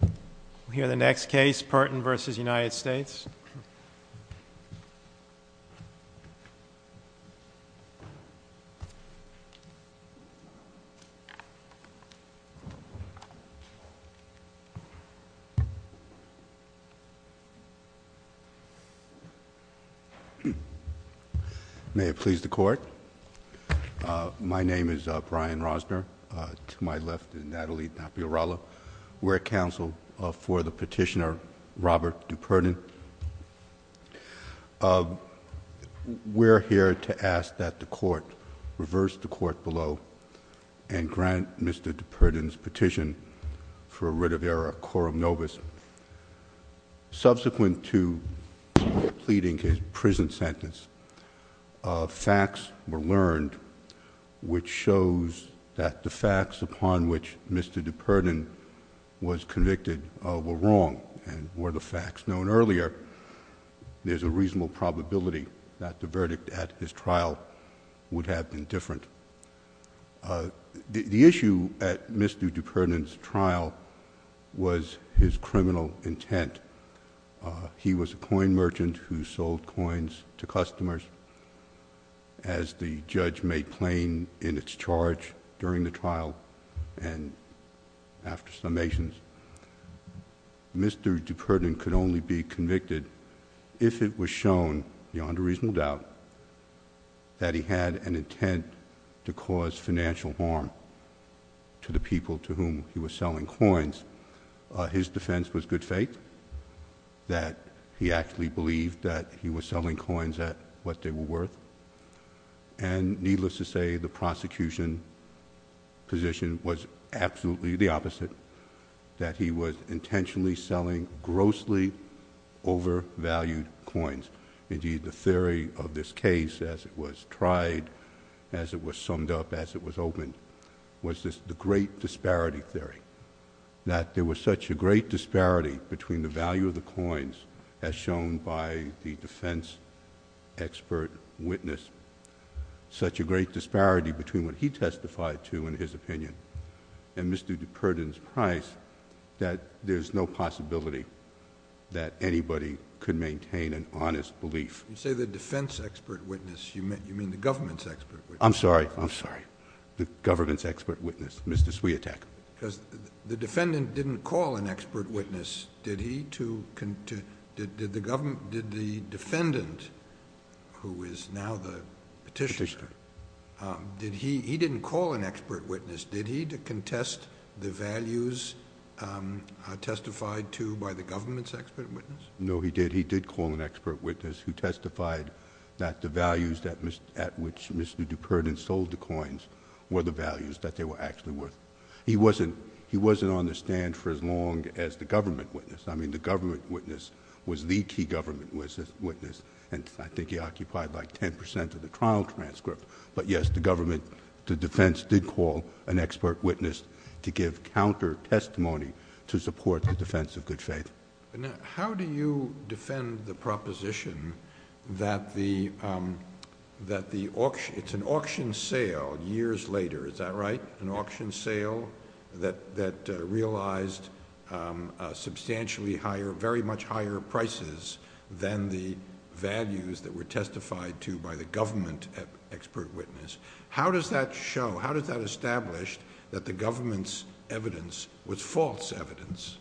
We'll hear the next case, Purton v. United States. May it please the Court. My name is Brian Rosner, to my left is Natalie Napierala. We're counsel for the petitioner Robert Dupurton. We're here to ask that the Court reverse the Court below and grant Mr. Dupurton's petition for a writ of error, quorum nobis. Subsequent to pleading his prison sentence, facts were learned which shows that the facts upon which Mr. Dupurton was convicted were wrong and were the facts known earlier. There's a reasonable probability that the verdict at his trial would have been different. The issue at Mr. Dupurton's trial was his criminal intent. He was a coin merchant who sold coins to customers. As the judge made plain in its charge during the trial and after summations, Mr. Dupurton could only be convicted if it was shown, beyond a reasonable doubt, that he had an intent to cause financial harm to the people to whom he was selling coins. His defense was good faith, that he actually believed that he was selling coins at what they were worth. Needless to say, the prosecution position was absolutely the opposite, that he was intentionally selling grossly overvalued coins. Indeed, the theory of this case as it was tried, as it was summed up, as it was opened, was the great disparity theory. That there was such a great disparity between the value of the coins as shown by the defense expert witness, such a great disparity between what he testified to in his opinion and Mr. Dupurton's price, that there's no possibility that anybody could maintain an honest belief. You say the defense expert witness, you mean the government's expert witness. I'm sorry, I'm sorry. The government's expert witness, Mr. Swiatek. Because the defendant didn't call an expert witness, did he? Did the defendant, who is now the petitioner, he didn't call an expert witness. Did he contest the values testified to by the government's expert witness? No, he did. He did call an expert witness who testified that the values at which Mr. Dupurton sold the coins were the values that they were actually worth. He wasn't on the stand for as long as the government witness. I mean, the government witness was the key government witness. I think he occupied like ten percent of the trial transcript. But yes, the government, the defense did call an expert witness to give counter testimony to support the defense of good faith. How do you defend the proposition that it's an auction sale years later, is that right? An auction sale that realized substantially higher, very much higher prices than the values that were testified to by the government expert witness. How does that show, how does that establish that the government's evidence was false evidence?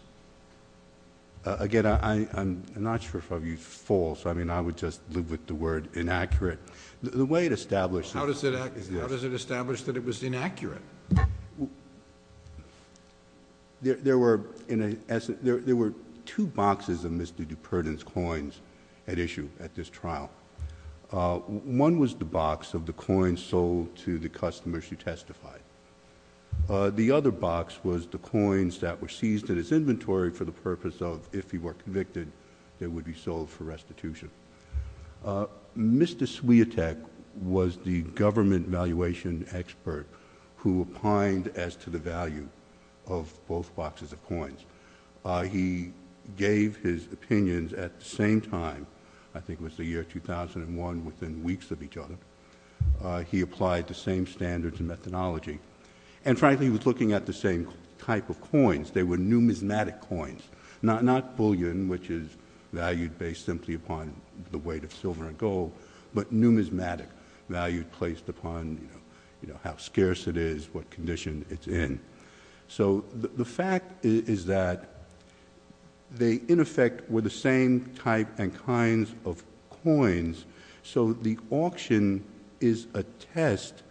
Again, I'm not sure if I would use false. I mean, I would just live with the word inaccurate. How does it establish that it was inaccurate? There were two boxes of Mr. Dupurton's coins at issue at this trial. One was the box of the coins sold to the customers who testified. The other box was the coins that were seized in his inventory for the purpose of, if he were convicted, they would be sold for restitution. Mr. Swiatek was the government valuation expert who opined as to the value of both boxes of coins. He gave his opinions at the same time, I think it was the year 2001, within weeks of each other. He applied the same standards and methodology. And frankly, he was looking at the same type of coins. They were numismatic coins, not bullion, which is valued based simply upon the weight of silver and gold, but numismatic, valued placed upon how scarce it is, what condition it's in. So the fact is that they, in effect, were the same type and kinds of coins. So the auction is a test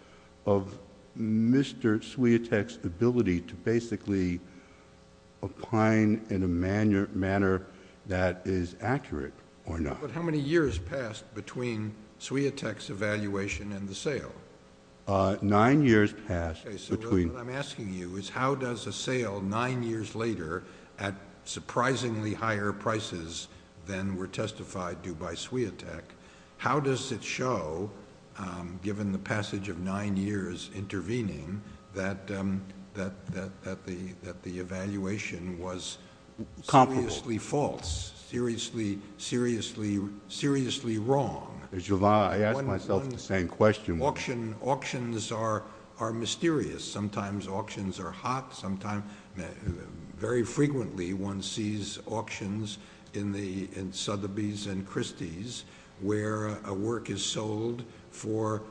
of Mr. Swiatek's ability to basically opine in a manner that is accurate or not. But how many years passed between Swiatek's evaluation and the sale? Nine years passed between— Okay, so what I'm asking you is how does a sale nine years later at surprisingly higher prices than were testified due by Swiatek, how does it show, given the passage of nine years intervening, that the evaluation was seriously false, seriously wrong? I asked myself the same question. Auctions are mysterious. Sometimes auctions are hot. Very frequently one sees auctions in Sotheby's and Christie's where a work is sold for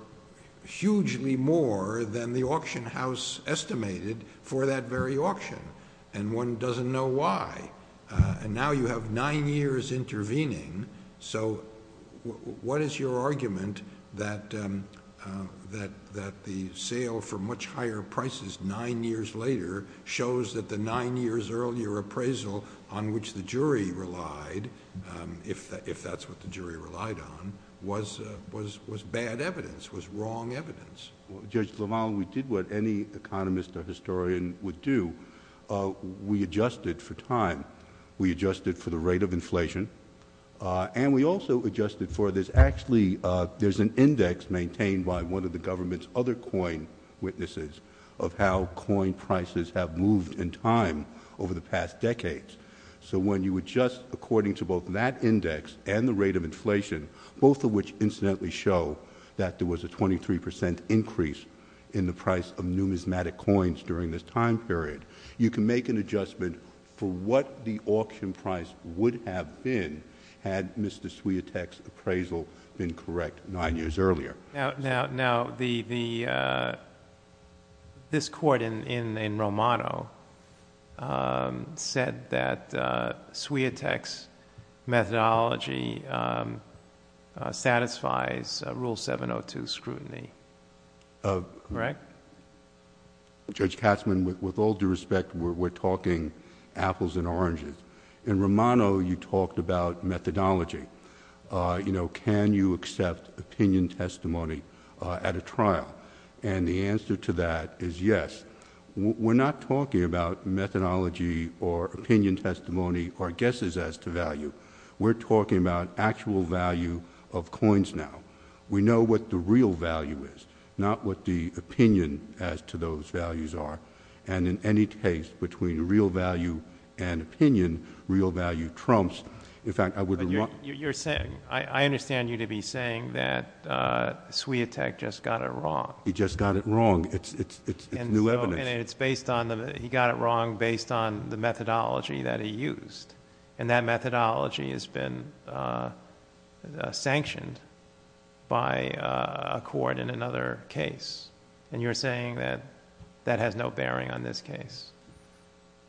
hugely more than the auction house estimated for that very auction. And one doesn't know why. And now you have nine years intervening. So what is your argument that the sale for much higher prices nine years later shows that the nine years earlier appraisal on which the jury relied, if that's what the jury relied on, was bad evidence, was wrong evidence? Judge LaValle, we did what any economist or historian would do. We adjusted for time. We adjusted for the rate of inflation. And we also adjusted for this—actually, there's an index maintained by one of the government's other coin witnesses of how coin prices have moved in time over the past decades. So when you adjust according to both that index and the rate of inflation, both of which incidentally show that there was a 23% increase in the price of numismatic coins during this time period, you can make an adjustment for what the auction price would have been had Mr. Swiatek's appraisal been correct nine years earlier. Now, this court in Romano said that Swiatek's methodology satisfies Rule 702 scrutiny. Correct? Judge Katzmann, with all due respect, we're talking apples and oranges. In Romano, you talked about methodology. You know, can you accept opinion testimony at a trial? And the answer to that is yes. We're not talking about methodology or opinion testimony or guesses as to value. We're talking about actual value of coins now. We know what the real value is, not what the opinion as to those values are. And in any case, between real value and opinion, real value trumps— I understand you to be saying that Swiatek just got it wrong. He just got it wrong. It's new evidence. He got it wrong based on the methodology that he used. And that methodology has been sanctioned by a court in another case. And you're saying that that has no bearing on this case.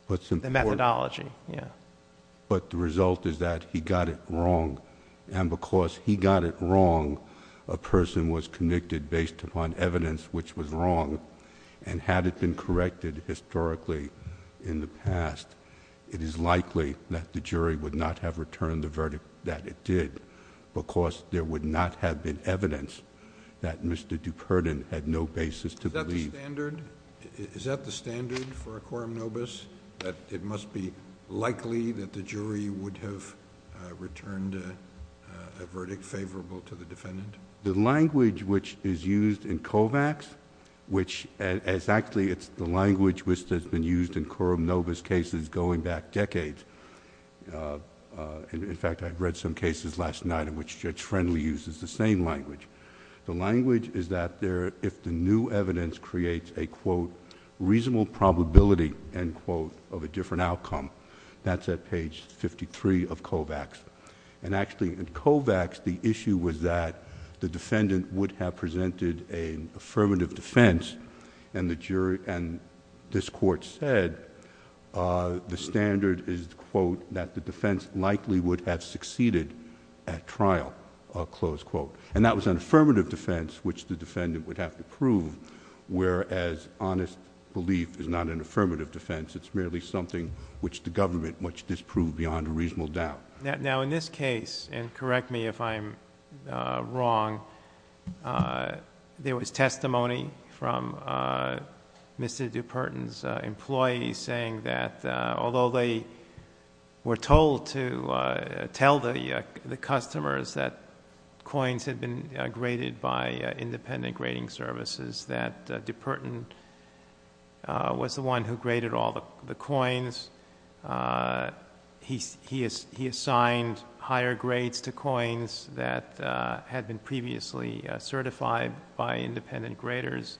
The methodology, yeah. But the result is that he got it wrong. And because he got it wrong, a person was convicted based upon evidence which was wrong. And had it been corrected historically in the past, it is likely that the jury would not have returned the verdict that it did because there would not have been evidence that Mr. DuPerdon had no basis to believe. Is that the standard? Is that the standard for a coram nobis? That it must be likely that the jury would have returned a verdict favorable to the defendant? The language which is used in Kovacs, which is actually the language which has been used in coram nobis cases going back decades. In fact, I've read some cases last night in which Judge Friendly uses the same language. The language is that if the new evidence creates a, quote, reasonable probability, end quote, of a different outcome. That's at page fifty-three of Kovacs. And actually, in Kovacs, the issue was that the defendant would have presented an affirmative defense and this court said the standard is, quote, that the defense likely would have succeeded at trial, close quote. And that was an affirmative defense which the defendant would have to prove, whereas honest belief is not an affirmative defense. It's merely something which the government must disprove beyond a reasonable doubt. Now, in this case, and correct me if I'm wrong, there was testimony from Mr. DuPerdon's employees saying that although they were told to tell the customers that coins had been graded by independent grading services, that DuPerdon was the one who graded all the coins. He assigned higher grades to coins that had been previously certified by independent graders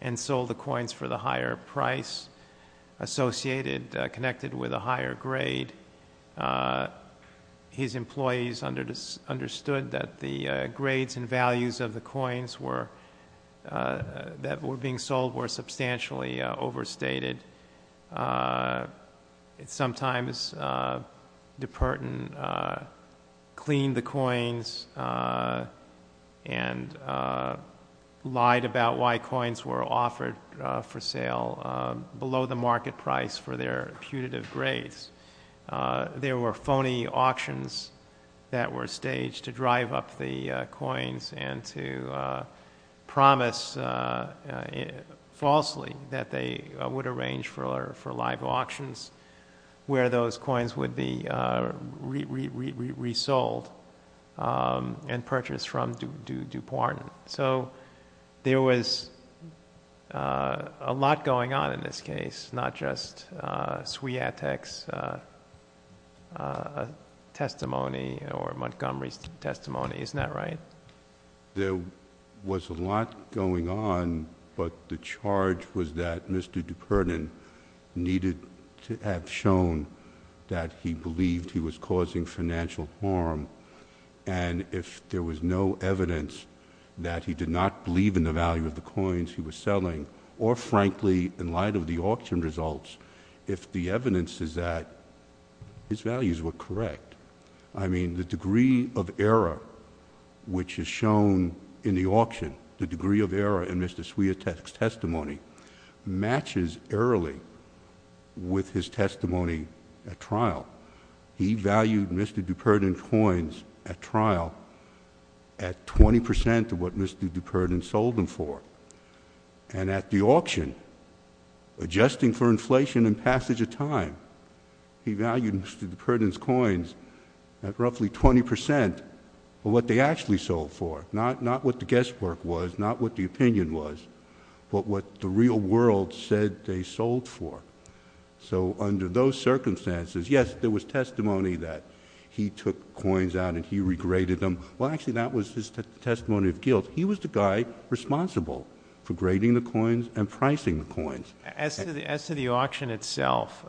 and sold the coins for the higher price associated, connected with a higher grade. His employees understood that the grades and values of the coins that were being sold were substantially overstated. Sometimes DuPerdon cleaned the coins and lied about why coins were offered for sale below the market price for their putative grades. There were phony auctions that were staged to drive up the coins and to promise falsely that they would arrange for live auctions where those coins would be resold and purchased from DuPerdon. So there was a lot going on in this case, not just Sweatek's testimony or Montgomery's testimony, isn't that right? There was a lot going on, but the charge was that Mr. DuPerdon needed to have shown that he believed he was causing financial harm, and if there was no evidence that he did not believe in the value of the coins he was selling, or frankly, in light of the auction results, if the evidence is that his values were correct. I mean, the degree of error which is shown in the auction, the degree of error in Mr. Sweatek's testimony, matches early with his testimony at trial. He valued Mr. DuPerdon's coins at trial at 20 percent of what Mr. DuPerdon sold them for, and at the auction, adjusting for inflation and passage of time, he valued Mr. DuPerdon's coins at roughly 20 percent of what they actually sold for, not what the guesswork was, not what the opinion was, but what the real world said they sold for. So under those circumstances, yes, there was testimony that he took coins out and he regretted them. Well, actually, that was his testimony of guilt. He was the guy responsible for grading the coins and pricing the coins. As to the auction itself,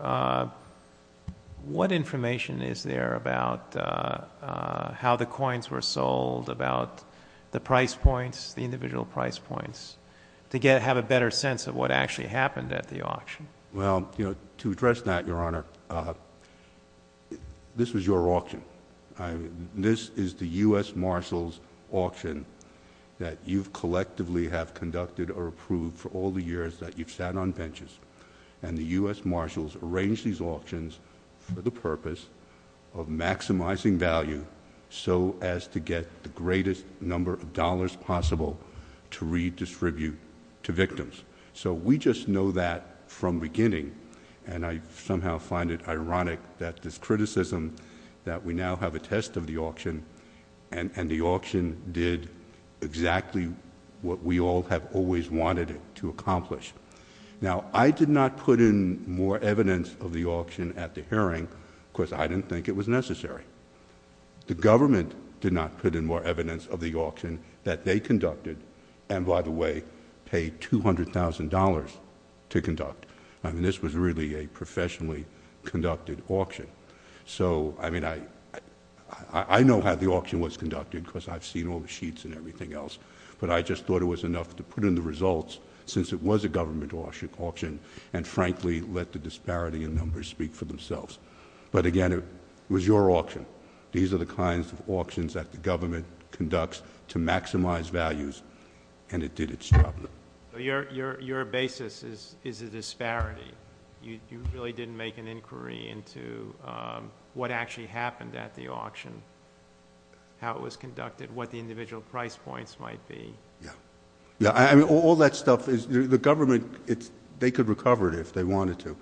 what information is there about how the coins were sold, about the price points, the individual price points, to have a better sense of what actually happened at the auction? Well, to address that, Your Honor, this was your auction. This is the U.S. Marshal's auction that you've collectively have conducted or approved for all the years that you've sat on benches, and the U.S. Marshals arranged these auctions for the purpose of maximizing value so as to get the greatest number of dollars possible to redistribute to victims. So we just know that from beginning, and I somehow find it ironic that this criticism that we now have a test of the auction and the auction did exactly what we all have always wanted it to accomplish. Now, I did not put in more evidence of the auction at the hearing because I didn't think it was necessary. The government did not put in more evidence of the auction that they conducted and, by the way, paid $200,000 to conduct. I mean, this was really a professionally conducted auction. So, I mean, I know how the auction was conducted because I've seen all the sheets and everything else, but I just thought it was enough to put in the results since it was a government auction and, frankly, let the disparity in numbers speak for themselves. But, again, it was your auction. These are the kinds of auctions that the government conducts to maximize values, and it did its job. Your basis is a disparity. You really didn't make an inquiry into what actually happened at the auction, how it was conducted, what the individual price points might be. Yeah. I mean, all that stuff, the government, they could recover it if they wanted to.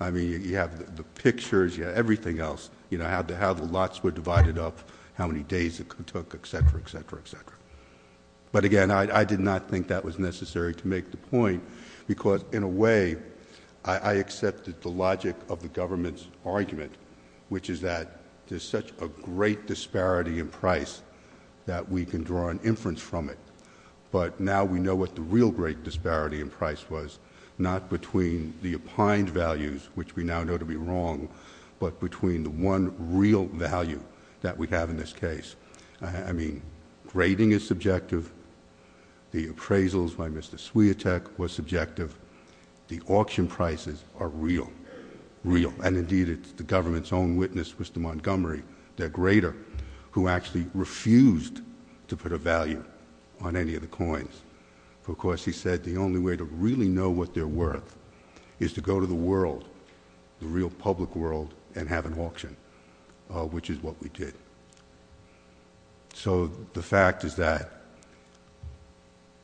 I mean, you have the pictures, you have everything else, you know, how the lots were divided up, how many days it took, et cetera, et cetera, et cetera. But, again, I did not think that was necessary to make the point because, in a way, I accepted the logic of the government's argument, which is that there's such a great disparity in price that we can draw an inference from it. But now we know what the real great disparity in price was, not between the opined values, which we now know to be wrong, but between the one real value that we have in this case. I mean, grading is subjective. The appraisals by Mr. Swiatek was subjective. The auction prices are real, real. And, indeed, it's the government's own witness, Mr. Montgomery, their grader, who actually refused to put a value on any of the coins. Of course, he said the only way to really know what they're worth is to go to the world, the real public world, and have an auction, which is what we did. So the fact is that,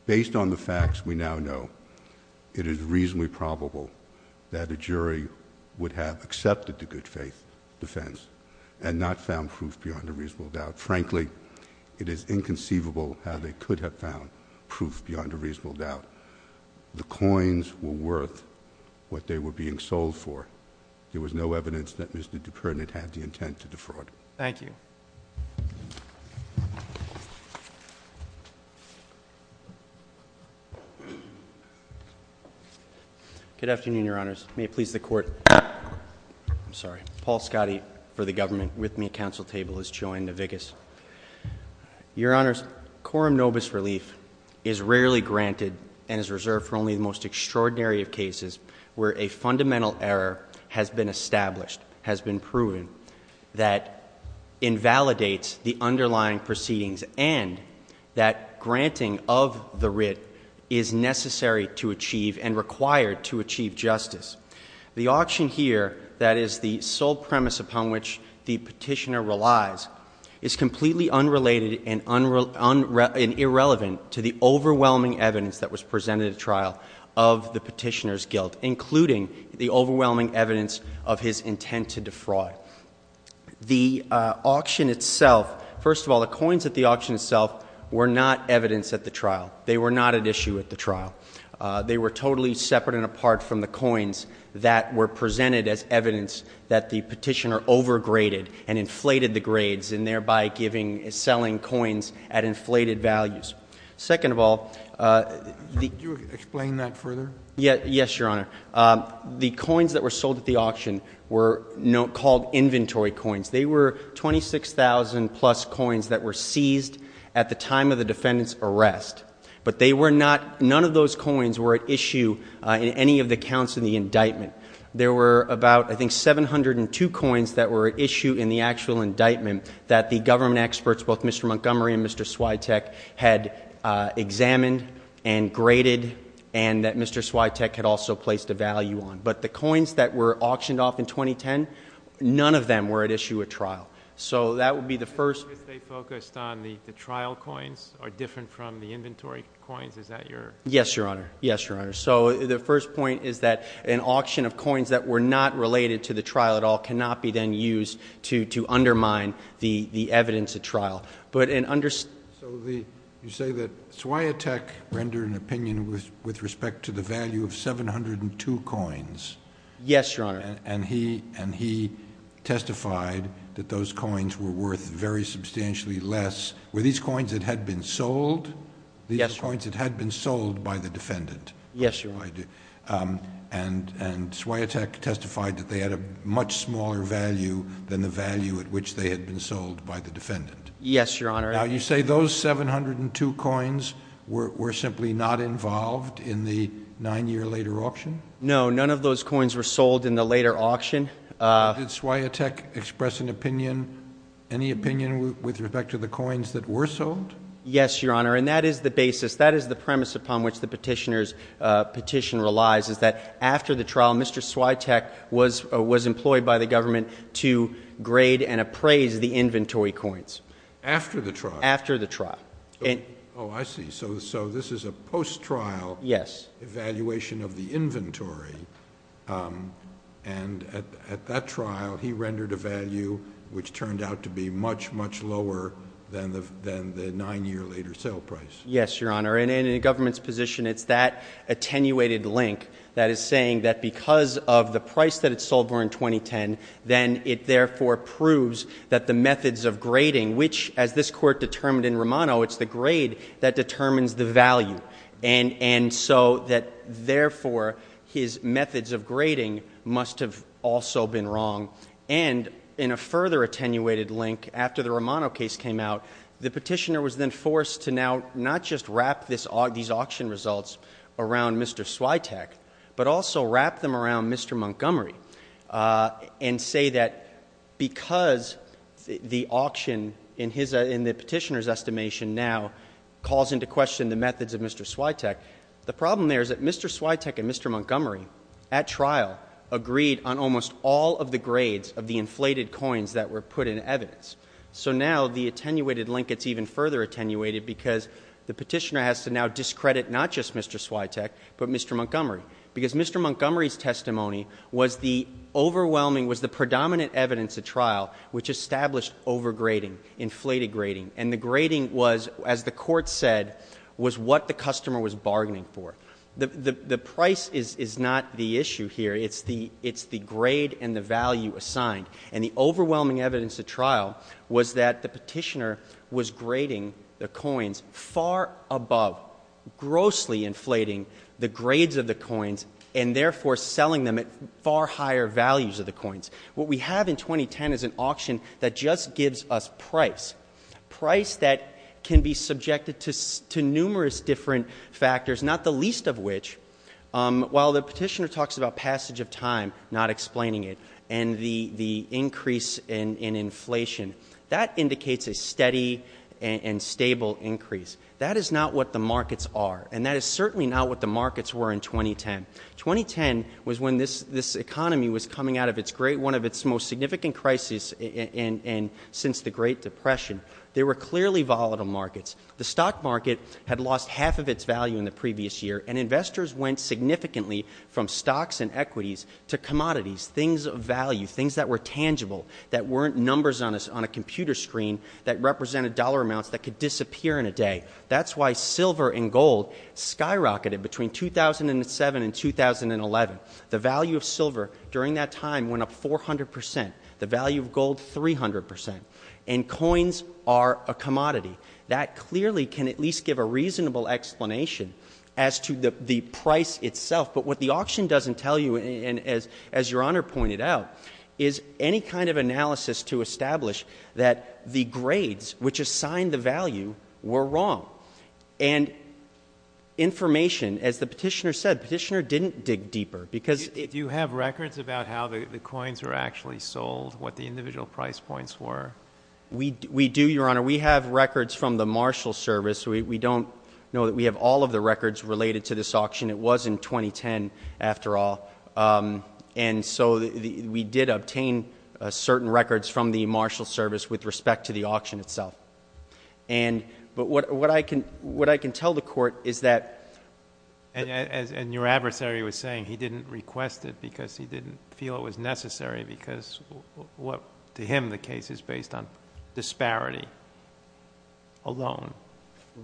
based on the facts we now know, it is reasonably probable that a jury would have accepted the good faith defense and not found proof beyond a reasonable doubt. Frankly, it is inconceivable how they could have found proof beyond a reasonable doubt. The coins were worth what they were being sold for. There was no evidence that Mr. Dupre had the intent to defraud. Thank you. Good afternoon, Your Honors. May it please the Court. I'm sorry. Paul Scotti for the government, with me at council table, is Joanne Navigas. Your Honors, quorum nobis relief is rarely granted and is reserved for only the most extraordinary of cases where a fundamental error has been established, has been proven, that invalidates the underlying proceedings, and that granting of the writ is necessary to achieve and required to achieve justice. The auction here, that is the sole premise upon which the petitioner relies, is completely unrelated and irrelevant to the overwhelming evidence that was presented at trial of the petitioner's guilt, including the overwhelming evidence of his intent to defraud. The auction itself, first of all, the coins at the auction itself were not evidence at the trial. They were not at issue at the trial. They were totally separate and apart from the coins that were presented as evidence that the petitioner overgraded and inflated the grades and thereby selling coins at inflated values. Second of all, the Can you explain that further? Yes, Your Honor. The coins that were sold at the auction were called inventory coins. They were 26,000 plus coins that were seized at the time of the defendant's arrest, but none of those coins were at issue in any of the counts in the indictment. There were about, I think, 702 coins that were at issue in the actual indictment that the government experts, both Mr. Montgomery and Mr. Swiatek, had examined and graded and that Mr. Swiatek had also placed a value on. But the coins that were auctioned off in 2010, none of them were at issue at trial. So that would be the first Because they focused on the trial coins are different from the inventory coins, is that your Yes, Your Honor. Yes, Your Honor. So the first point is that an auction of coins that were not related to the trial at all cannot be then used to undermine the evidence at trial. So you say that Swiatek rendered an opinion with respect to the value of 702 coins. Yes, Your Honor. And he testified that those coins were worth very substantially less. Were these coins that had been sold? Yes, Your Honor. These were coins that had been sold by the defendant. Yes, Your Honor. And Swiatek testified that they had a much smaller value than the value at which they had been sold by the defendant. Yes, Your Honor. Now, you say those 702 coins were simply not involved in the nine-year later auction? No, none of those coins were sold in the later auction. Did Swiatek express an opinion, any opinion with respect to the coins that were sold? Yes, Your Honor. And that is the basis, that is the premise upon which the petitioner's petition relies, is that after the trial, Mr. Swiatek was employed by the government to grade and appraise the inventory coins. After the trial? After the trial. Oh, I see. So this is a post-trial evaluation of the inventory. And at that trial, he rendered a value which turned out to be much, much lower than the nine-year later sale price. Yes, Your Honor. And in a government's position, it's that attenuated link that is saying that because of the price that it sold for in 2010, then it therefore proves that the methods of grading, which as this Court determined in Romano, it's the grade that determines the value. And so that therefore his methods of grading must have also been wrong. And in a further attenuated link, after the Romano case came out, the petitioner was then forced to now not just wrap these auction results around Mr. Swiatek, but also wrap them around Mr. Montgomery and say that because the auction, in the petitioner's estimation now, calls into question the methods of Mr. Swiatek, the problem there is that Mr. Swiatek and Mr. Montgomery, at trial, agreed on almost all of the grades of the inflated coins that were put in evidence. So now the attenuated link gets even further attenuated because the petitioner has to now discredit not just Mr. Swiatek, but Mr. Montgomery, because Mr. Montgomery's testimony was the overwhelming, was the predominant evidence at trial which established overgrading, inflated grading, and the grading was, as the Court said, was what the customer was bargaining for. The price is not the issue here. It's the grade and the value assigned. And the overwhelming evidence at trial was that the petitioner was grading the coins far above, grossly inflating the grades of the coins and, therefore, selling them at far higher values of the coins. What we have in 2010 is an auction that just gives us price, price that can be subjected to numerous different factors, not the least of which, while the petitioner talks about passage of time, not explaining it, and the increase in inflation. That indicates a steady and stable increase. That is not what the markets are, and that is certainly not what the markets were in 2010. 2010 was when this economy was coming out of its great, one of its most significant crises since the Great Depression. They were clearly volatile markets. The stock market had lost half of its value in the previous year, and investors went significantly from stocks and equities to commodities, things of value, things that were tangible, that weren't numbers on a computer screen that represented dollar amounts that could disappear in a day. That's why silver and gold skyrocketed between 2007 and 2011. The value of silver during that time went up 400 percent. The value of gold, 300 percent. And coins are a commodity. That clearly can at least give a reasonable explanation as to the price itself. But what the auction doesn't tell you, as Your Honor pointed out, is any kind of analysis to establish that the grades which assign the value were wrong. And information, as the petitioner said, the petitioner didn't dig deeper. Do you have records about how the coins were actually sold, what the individual price points were? We do, Your Honor. We have records from the Marshall Service. We don't know that we have all of the records related to this auction. It was in 2010, after all. And so we did obtain certain records from the Marshall Service with respect to the auction itself. But what I can tell the Court is that... And your adversary was saying he didn't request it because he didn't feel it was necessary because to him the case is based on disparity alone.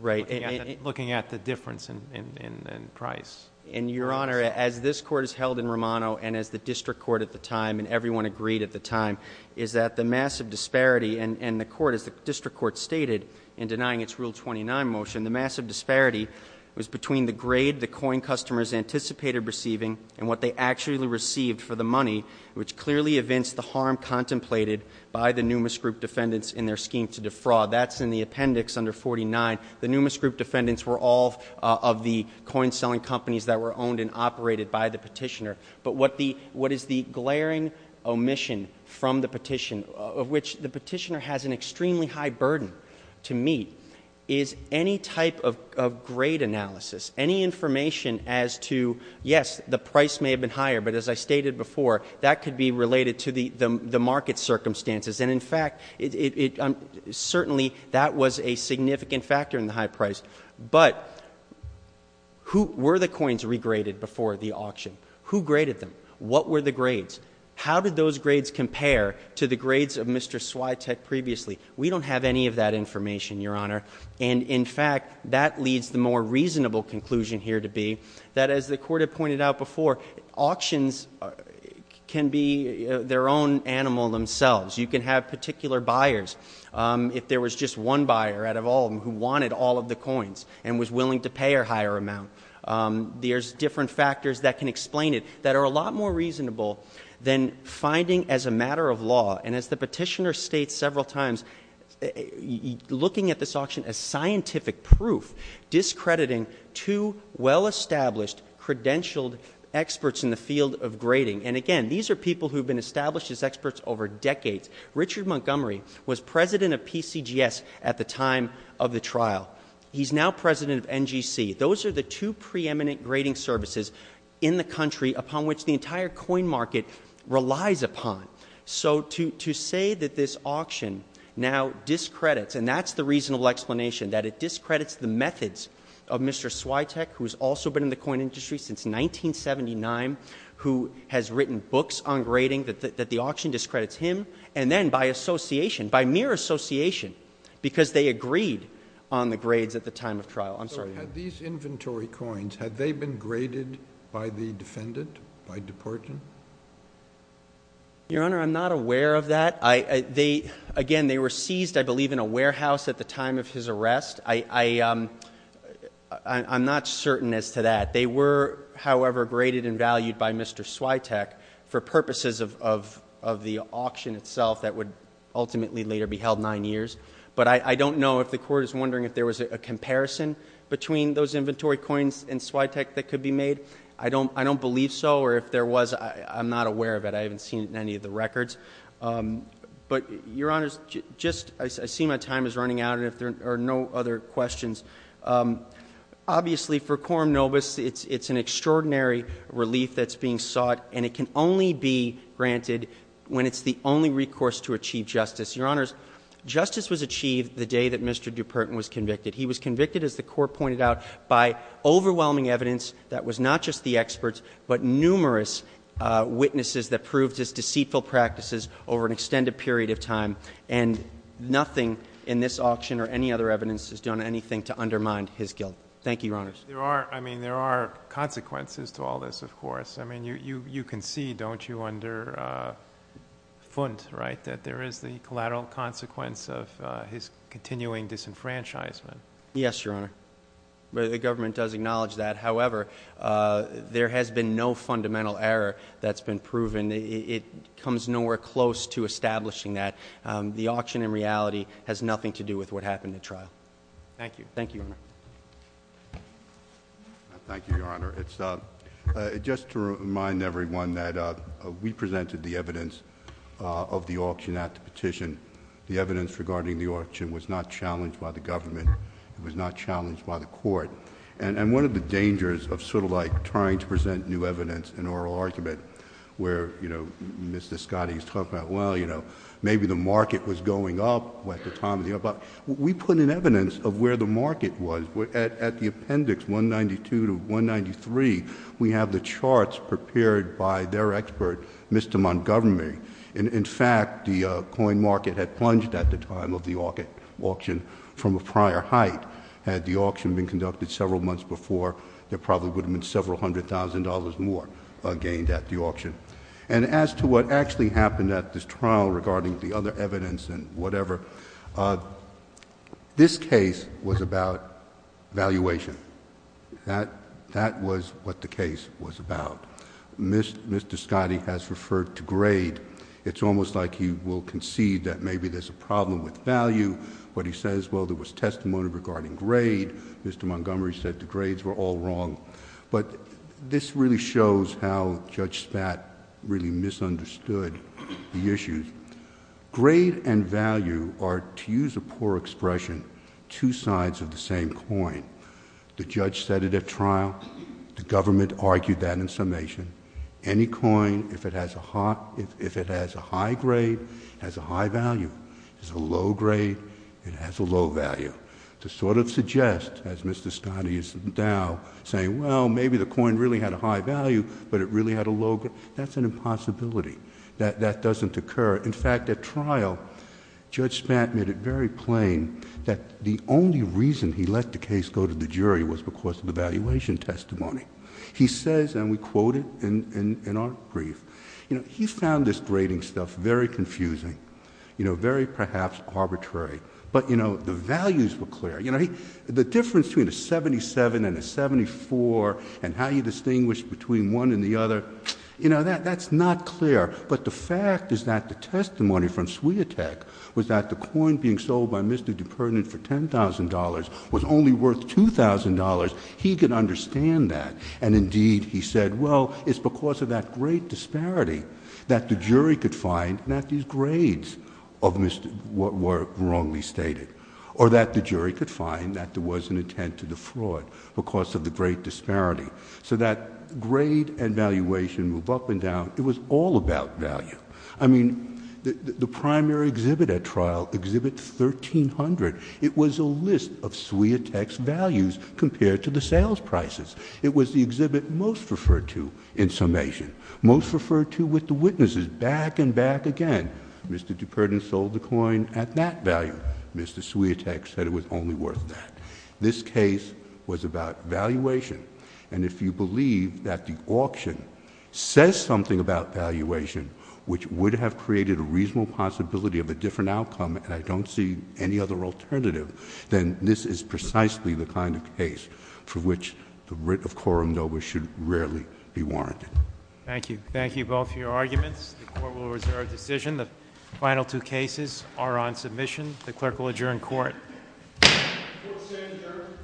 Right. Looking at the difference in price. And, Your Honor, as this Court has held in Romano and as the district court at the time, and everyone agreed at the time, is that the massive disparity in the court, as the district court stated in denying its Rule 29 motion, the massive disparity was between the grade the coin customers anticipated receiving and what they actually received for the money, which clearly evinced the harm contemplated by the numis group defendants in their scheme to defraud. That's in the appendix under 49. The numis group defendants were all of the coin selling companies that were owned and operated by the petitioner. But what is the glaring omission from the petition, of which the petitioner has an extremely high burden to meet, is any type of grade analysis, any information as to, yes, the price may have been higher, but as I stated before, that could be related to the market circumstances. And, in fact, certainly that was a significant factor in the high price. But were the coins regraded before the auction? Who graded them? What were the grades? How did those grades compare to the grades of Mr. Swiatek previously? We don't have any of that information, Your Honor. And, in fact, that leads the more reasonable conclusion here to be that, as the court had pointed out before, auctions can be their own animal themselves. You can have particular buyers. If there was just one buyer out of all of them who wanted all of the coins and was willing to pay a higher amount, there's different factors that can explain it that are a lot more reasonable than finding as a matter of law. And as the petitioner states several times, looking at this auction as scientific proof, discrediting two well-established credentialed experts in the field of grading. And, again, these are people who have been established as experts over decades. Richard Montgomery was president of PCGS at the time of the trial. He's now president of NGC. Those are the two preeminent grading services in the country upon which the entire coin market relies upon. So to say that this auction now discredits, and that's the reasonable explanation, that it discredits the methods of Mr. Swiatek, who has also been in the coin industry since 1979, who has written books on grading, that the auction discredits him. And then by association, by mere association, because they agreed on the grades at the time of trial. I'm sorry. Had these inventory coins, had they been graded by the defendant, by deportant? Your Honor, I'm not aware of that. Again, they were seized, I believe, in a warehouse at the time of his arrest. I'm not certain as to that. They were, however, graded and valued by Mr. Swiatek for purposes of the auction itself that would ultimately later be held nine years. But I don't know if the court is wondering if there was a comparison between those inventory coins and Swiatek that could be made. I don't believe so, or if there was, I'm not aware of it. I haven't seen it in any of the records. But, Your Honor, I see my time is running out, and if there are no other questions. Obviously, for Coram Novus, it's an extraordinary relief that's being sought, and it can only be granted when it's the only recourse to achieve justice. Your Honors, justice was achieved the day that Mr. DuPertin was convicted. He was convicted, as the court pointed out, by overwhelming evidence that was not just the experts, but numerous witnesses that proved his deceitful practices over an extended period of time. And nothing in this auction or any other evidence has done anything to undermine his guilt. Thank you, Your Honors. There are consequences to all this, of course. I mean, you can see, don't you, under Funt, right, that there is the collateral consequence of his continuing disenfranchisement. Yes, Your Honor. The government does acknowledge that. However, there has been no fundamental error that's been proven. It comes nowhere close to establishing that. The auction, in reality, has nothing to do with what happened at trial. Thank you. Thank you, Your Honor. Thank you, Your Honor. Just to remind everyone that we presented the evidence of the auction at the petition. The evidence regarding the auction was not challenged by the government. It was not challenged by the court. And one of the dangers of sort of like trying to present new evidence, an oral argument, where, you know, Mr. Scottie is talking about, well, you know, maybe the market was going up at the time. We put in evidence of where the market was. At the appendix 192 to 193, we have the charts prepared by their expert, Mr. Montgomery. In fact, the coin market had plunged at the time of the auction from a prior height. Had the auction been conducted several months before, there probably would have been several hundred thousand dollars more gained at the auction. And as to what actually happened at this trial regarding the other evidence and whatever, this case was about valuation. That was what the case was about. Mr. Scottie has referred to grade. It's almost like he will concede that maybe there's a problem with value. But he says, well, there was testimony regarding grade. Mr. Montgomery said the grades were all wrong. But this really shows how Judge Spat really misunderstood the issue. Grade and value are, to use a poor expression, two sides of the same coin. The judge said it at trial. The government argued that in summation. Any coin, if it has a high grade, has a high value. If it's a low grade, it has a low value. To sort of suggest, as Mr. Scottie is now saying, well, maybe the coin really had a high value, but it really had a low grade, that's an impossibility. That doesn't occur. In fact, at trial, Judge Spat made it very plain that the only reason he let the case go to the jury was because of the valuation testimony. He says, and we quote it in our brief, he found this grading stuff very confusing, very perhaps arbitrary. But the values were clear. The difference between a seventy-seven and a seventy-four and how you distinguish between one and the other, that's not clear. But the fact is that the testimony from Swiotek was that the coin being sold by Mr. DePerdinant for $10,000 was only worth $2,000. He could understand that. And indeed, he said, well, it's because of that great disparity that the jury could find that these grades were wrongly stated. Or that the jury could find that there was an intent to defraud because of the great disparity. So that grade and valuation move up and down. It was all about value. I mean, the primary exhibit at trial, Exhibit 1300, it was a list of Swiotek's values compared to the sales prices. It was the exhibit most referred to in summation, most referred to with the witnesses back and back again. Mr. DePerdinant sold the coin at that value. Mr. Swiotek said it was only worth that. This case was about valuation. And if you believe that the auction says something about valuation, which would have created a reasonable possibility of a different outcome, and I don't see any other alternative, then this is precisely the kind of case for which the writ of quorum nobis should rarely be warranted. Thank you. Thank you both for your arguments. The Court will reserve decision. The final two cases are on submission. The Clerk will adjourn Court. The Court is adjourned.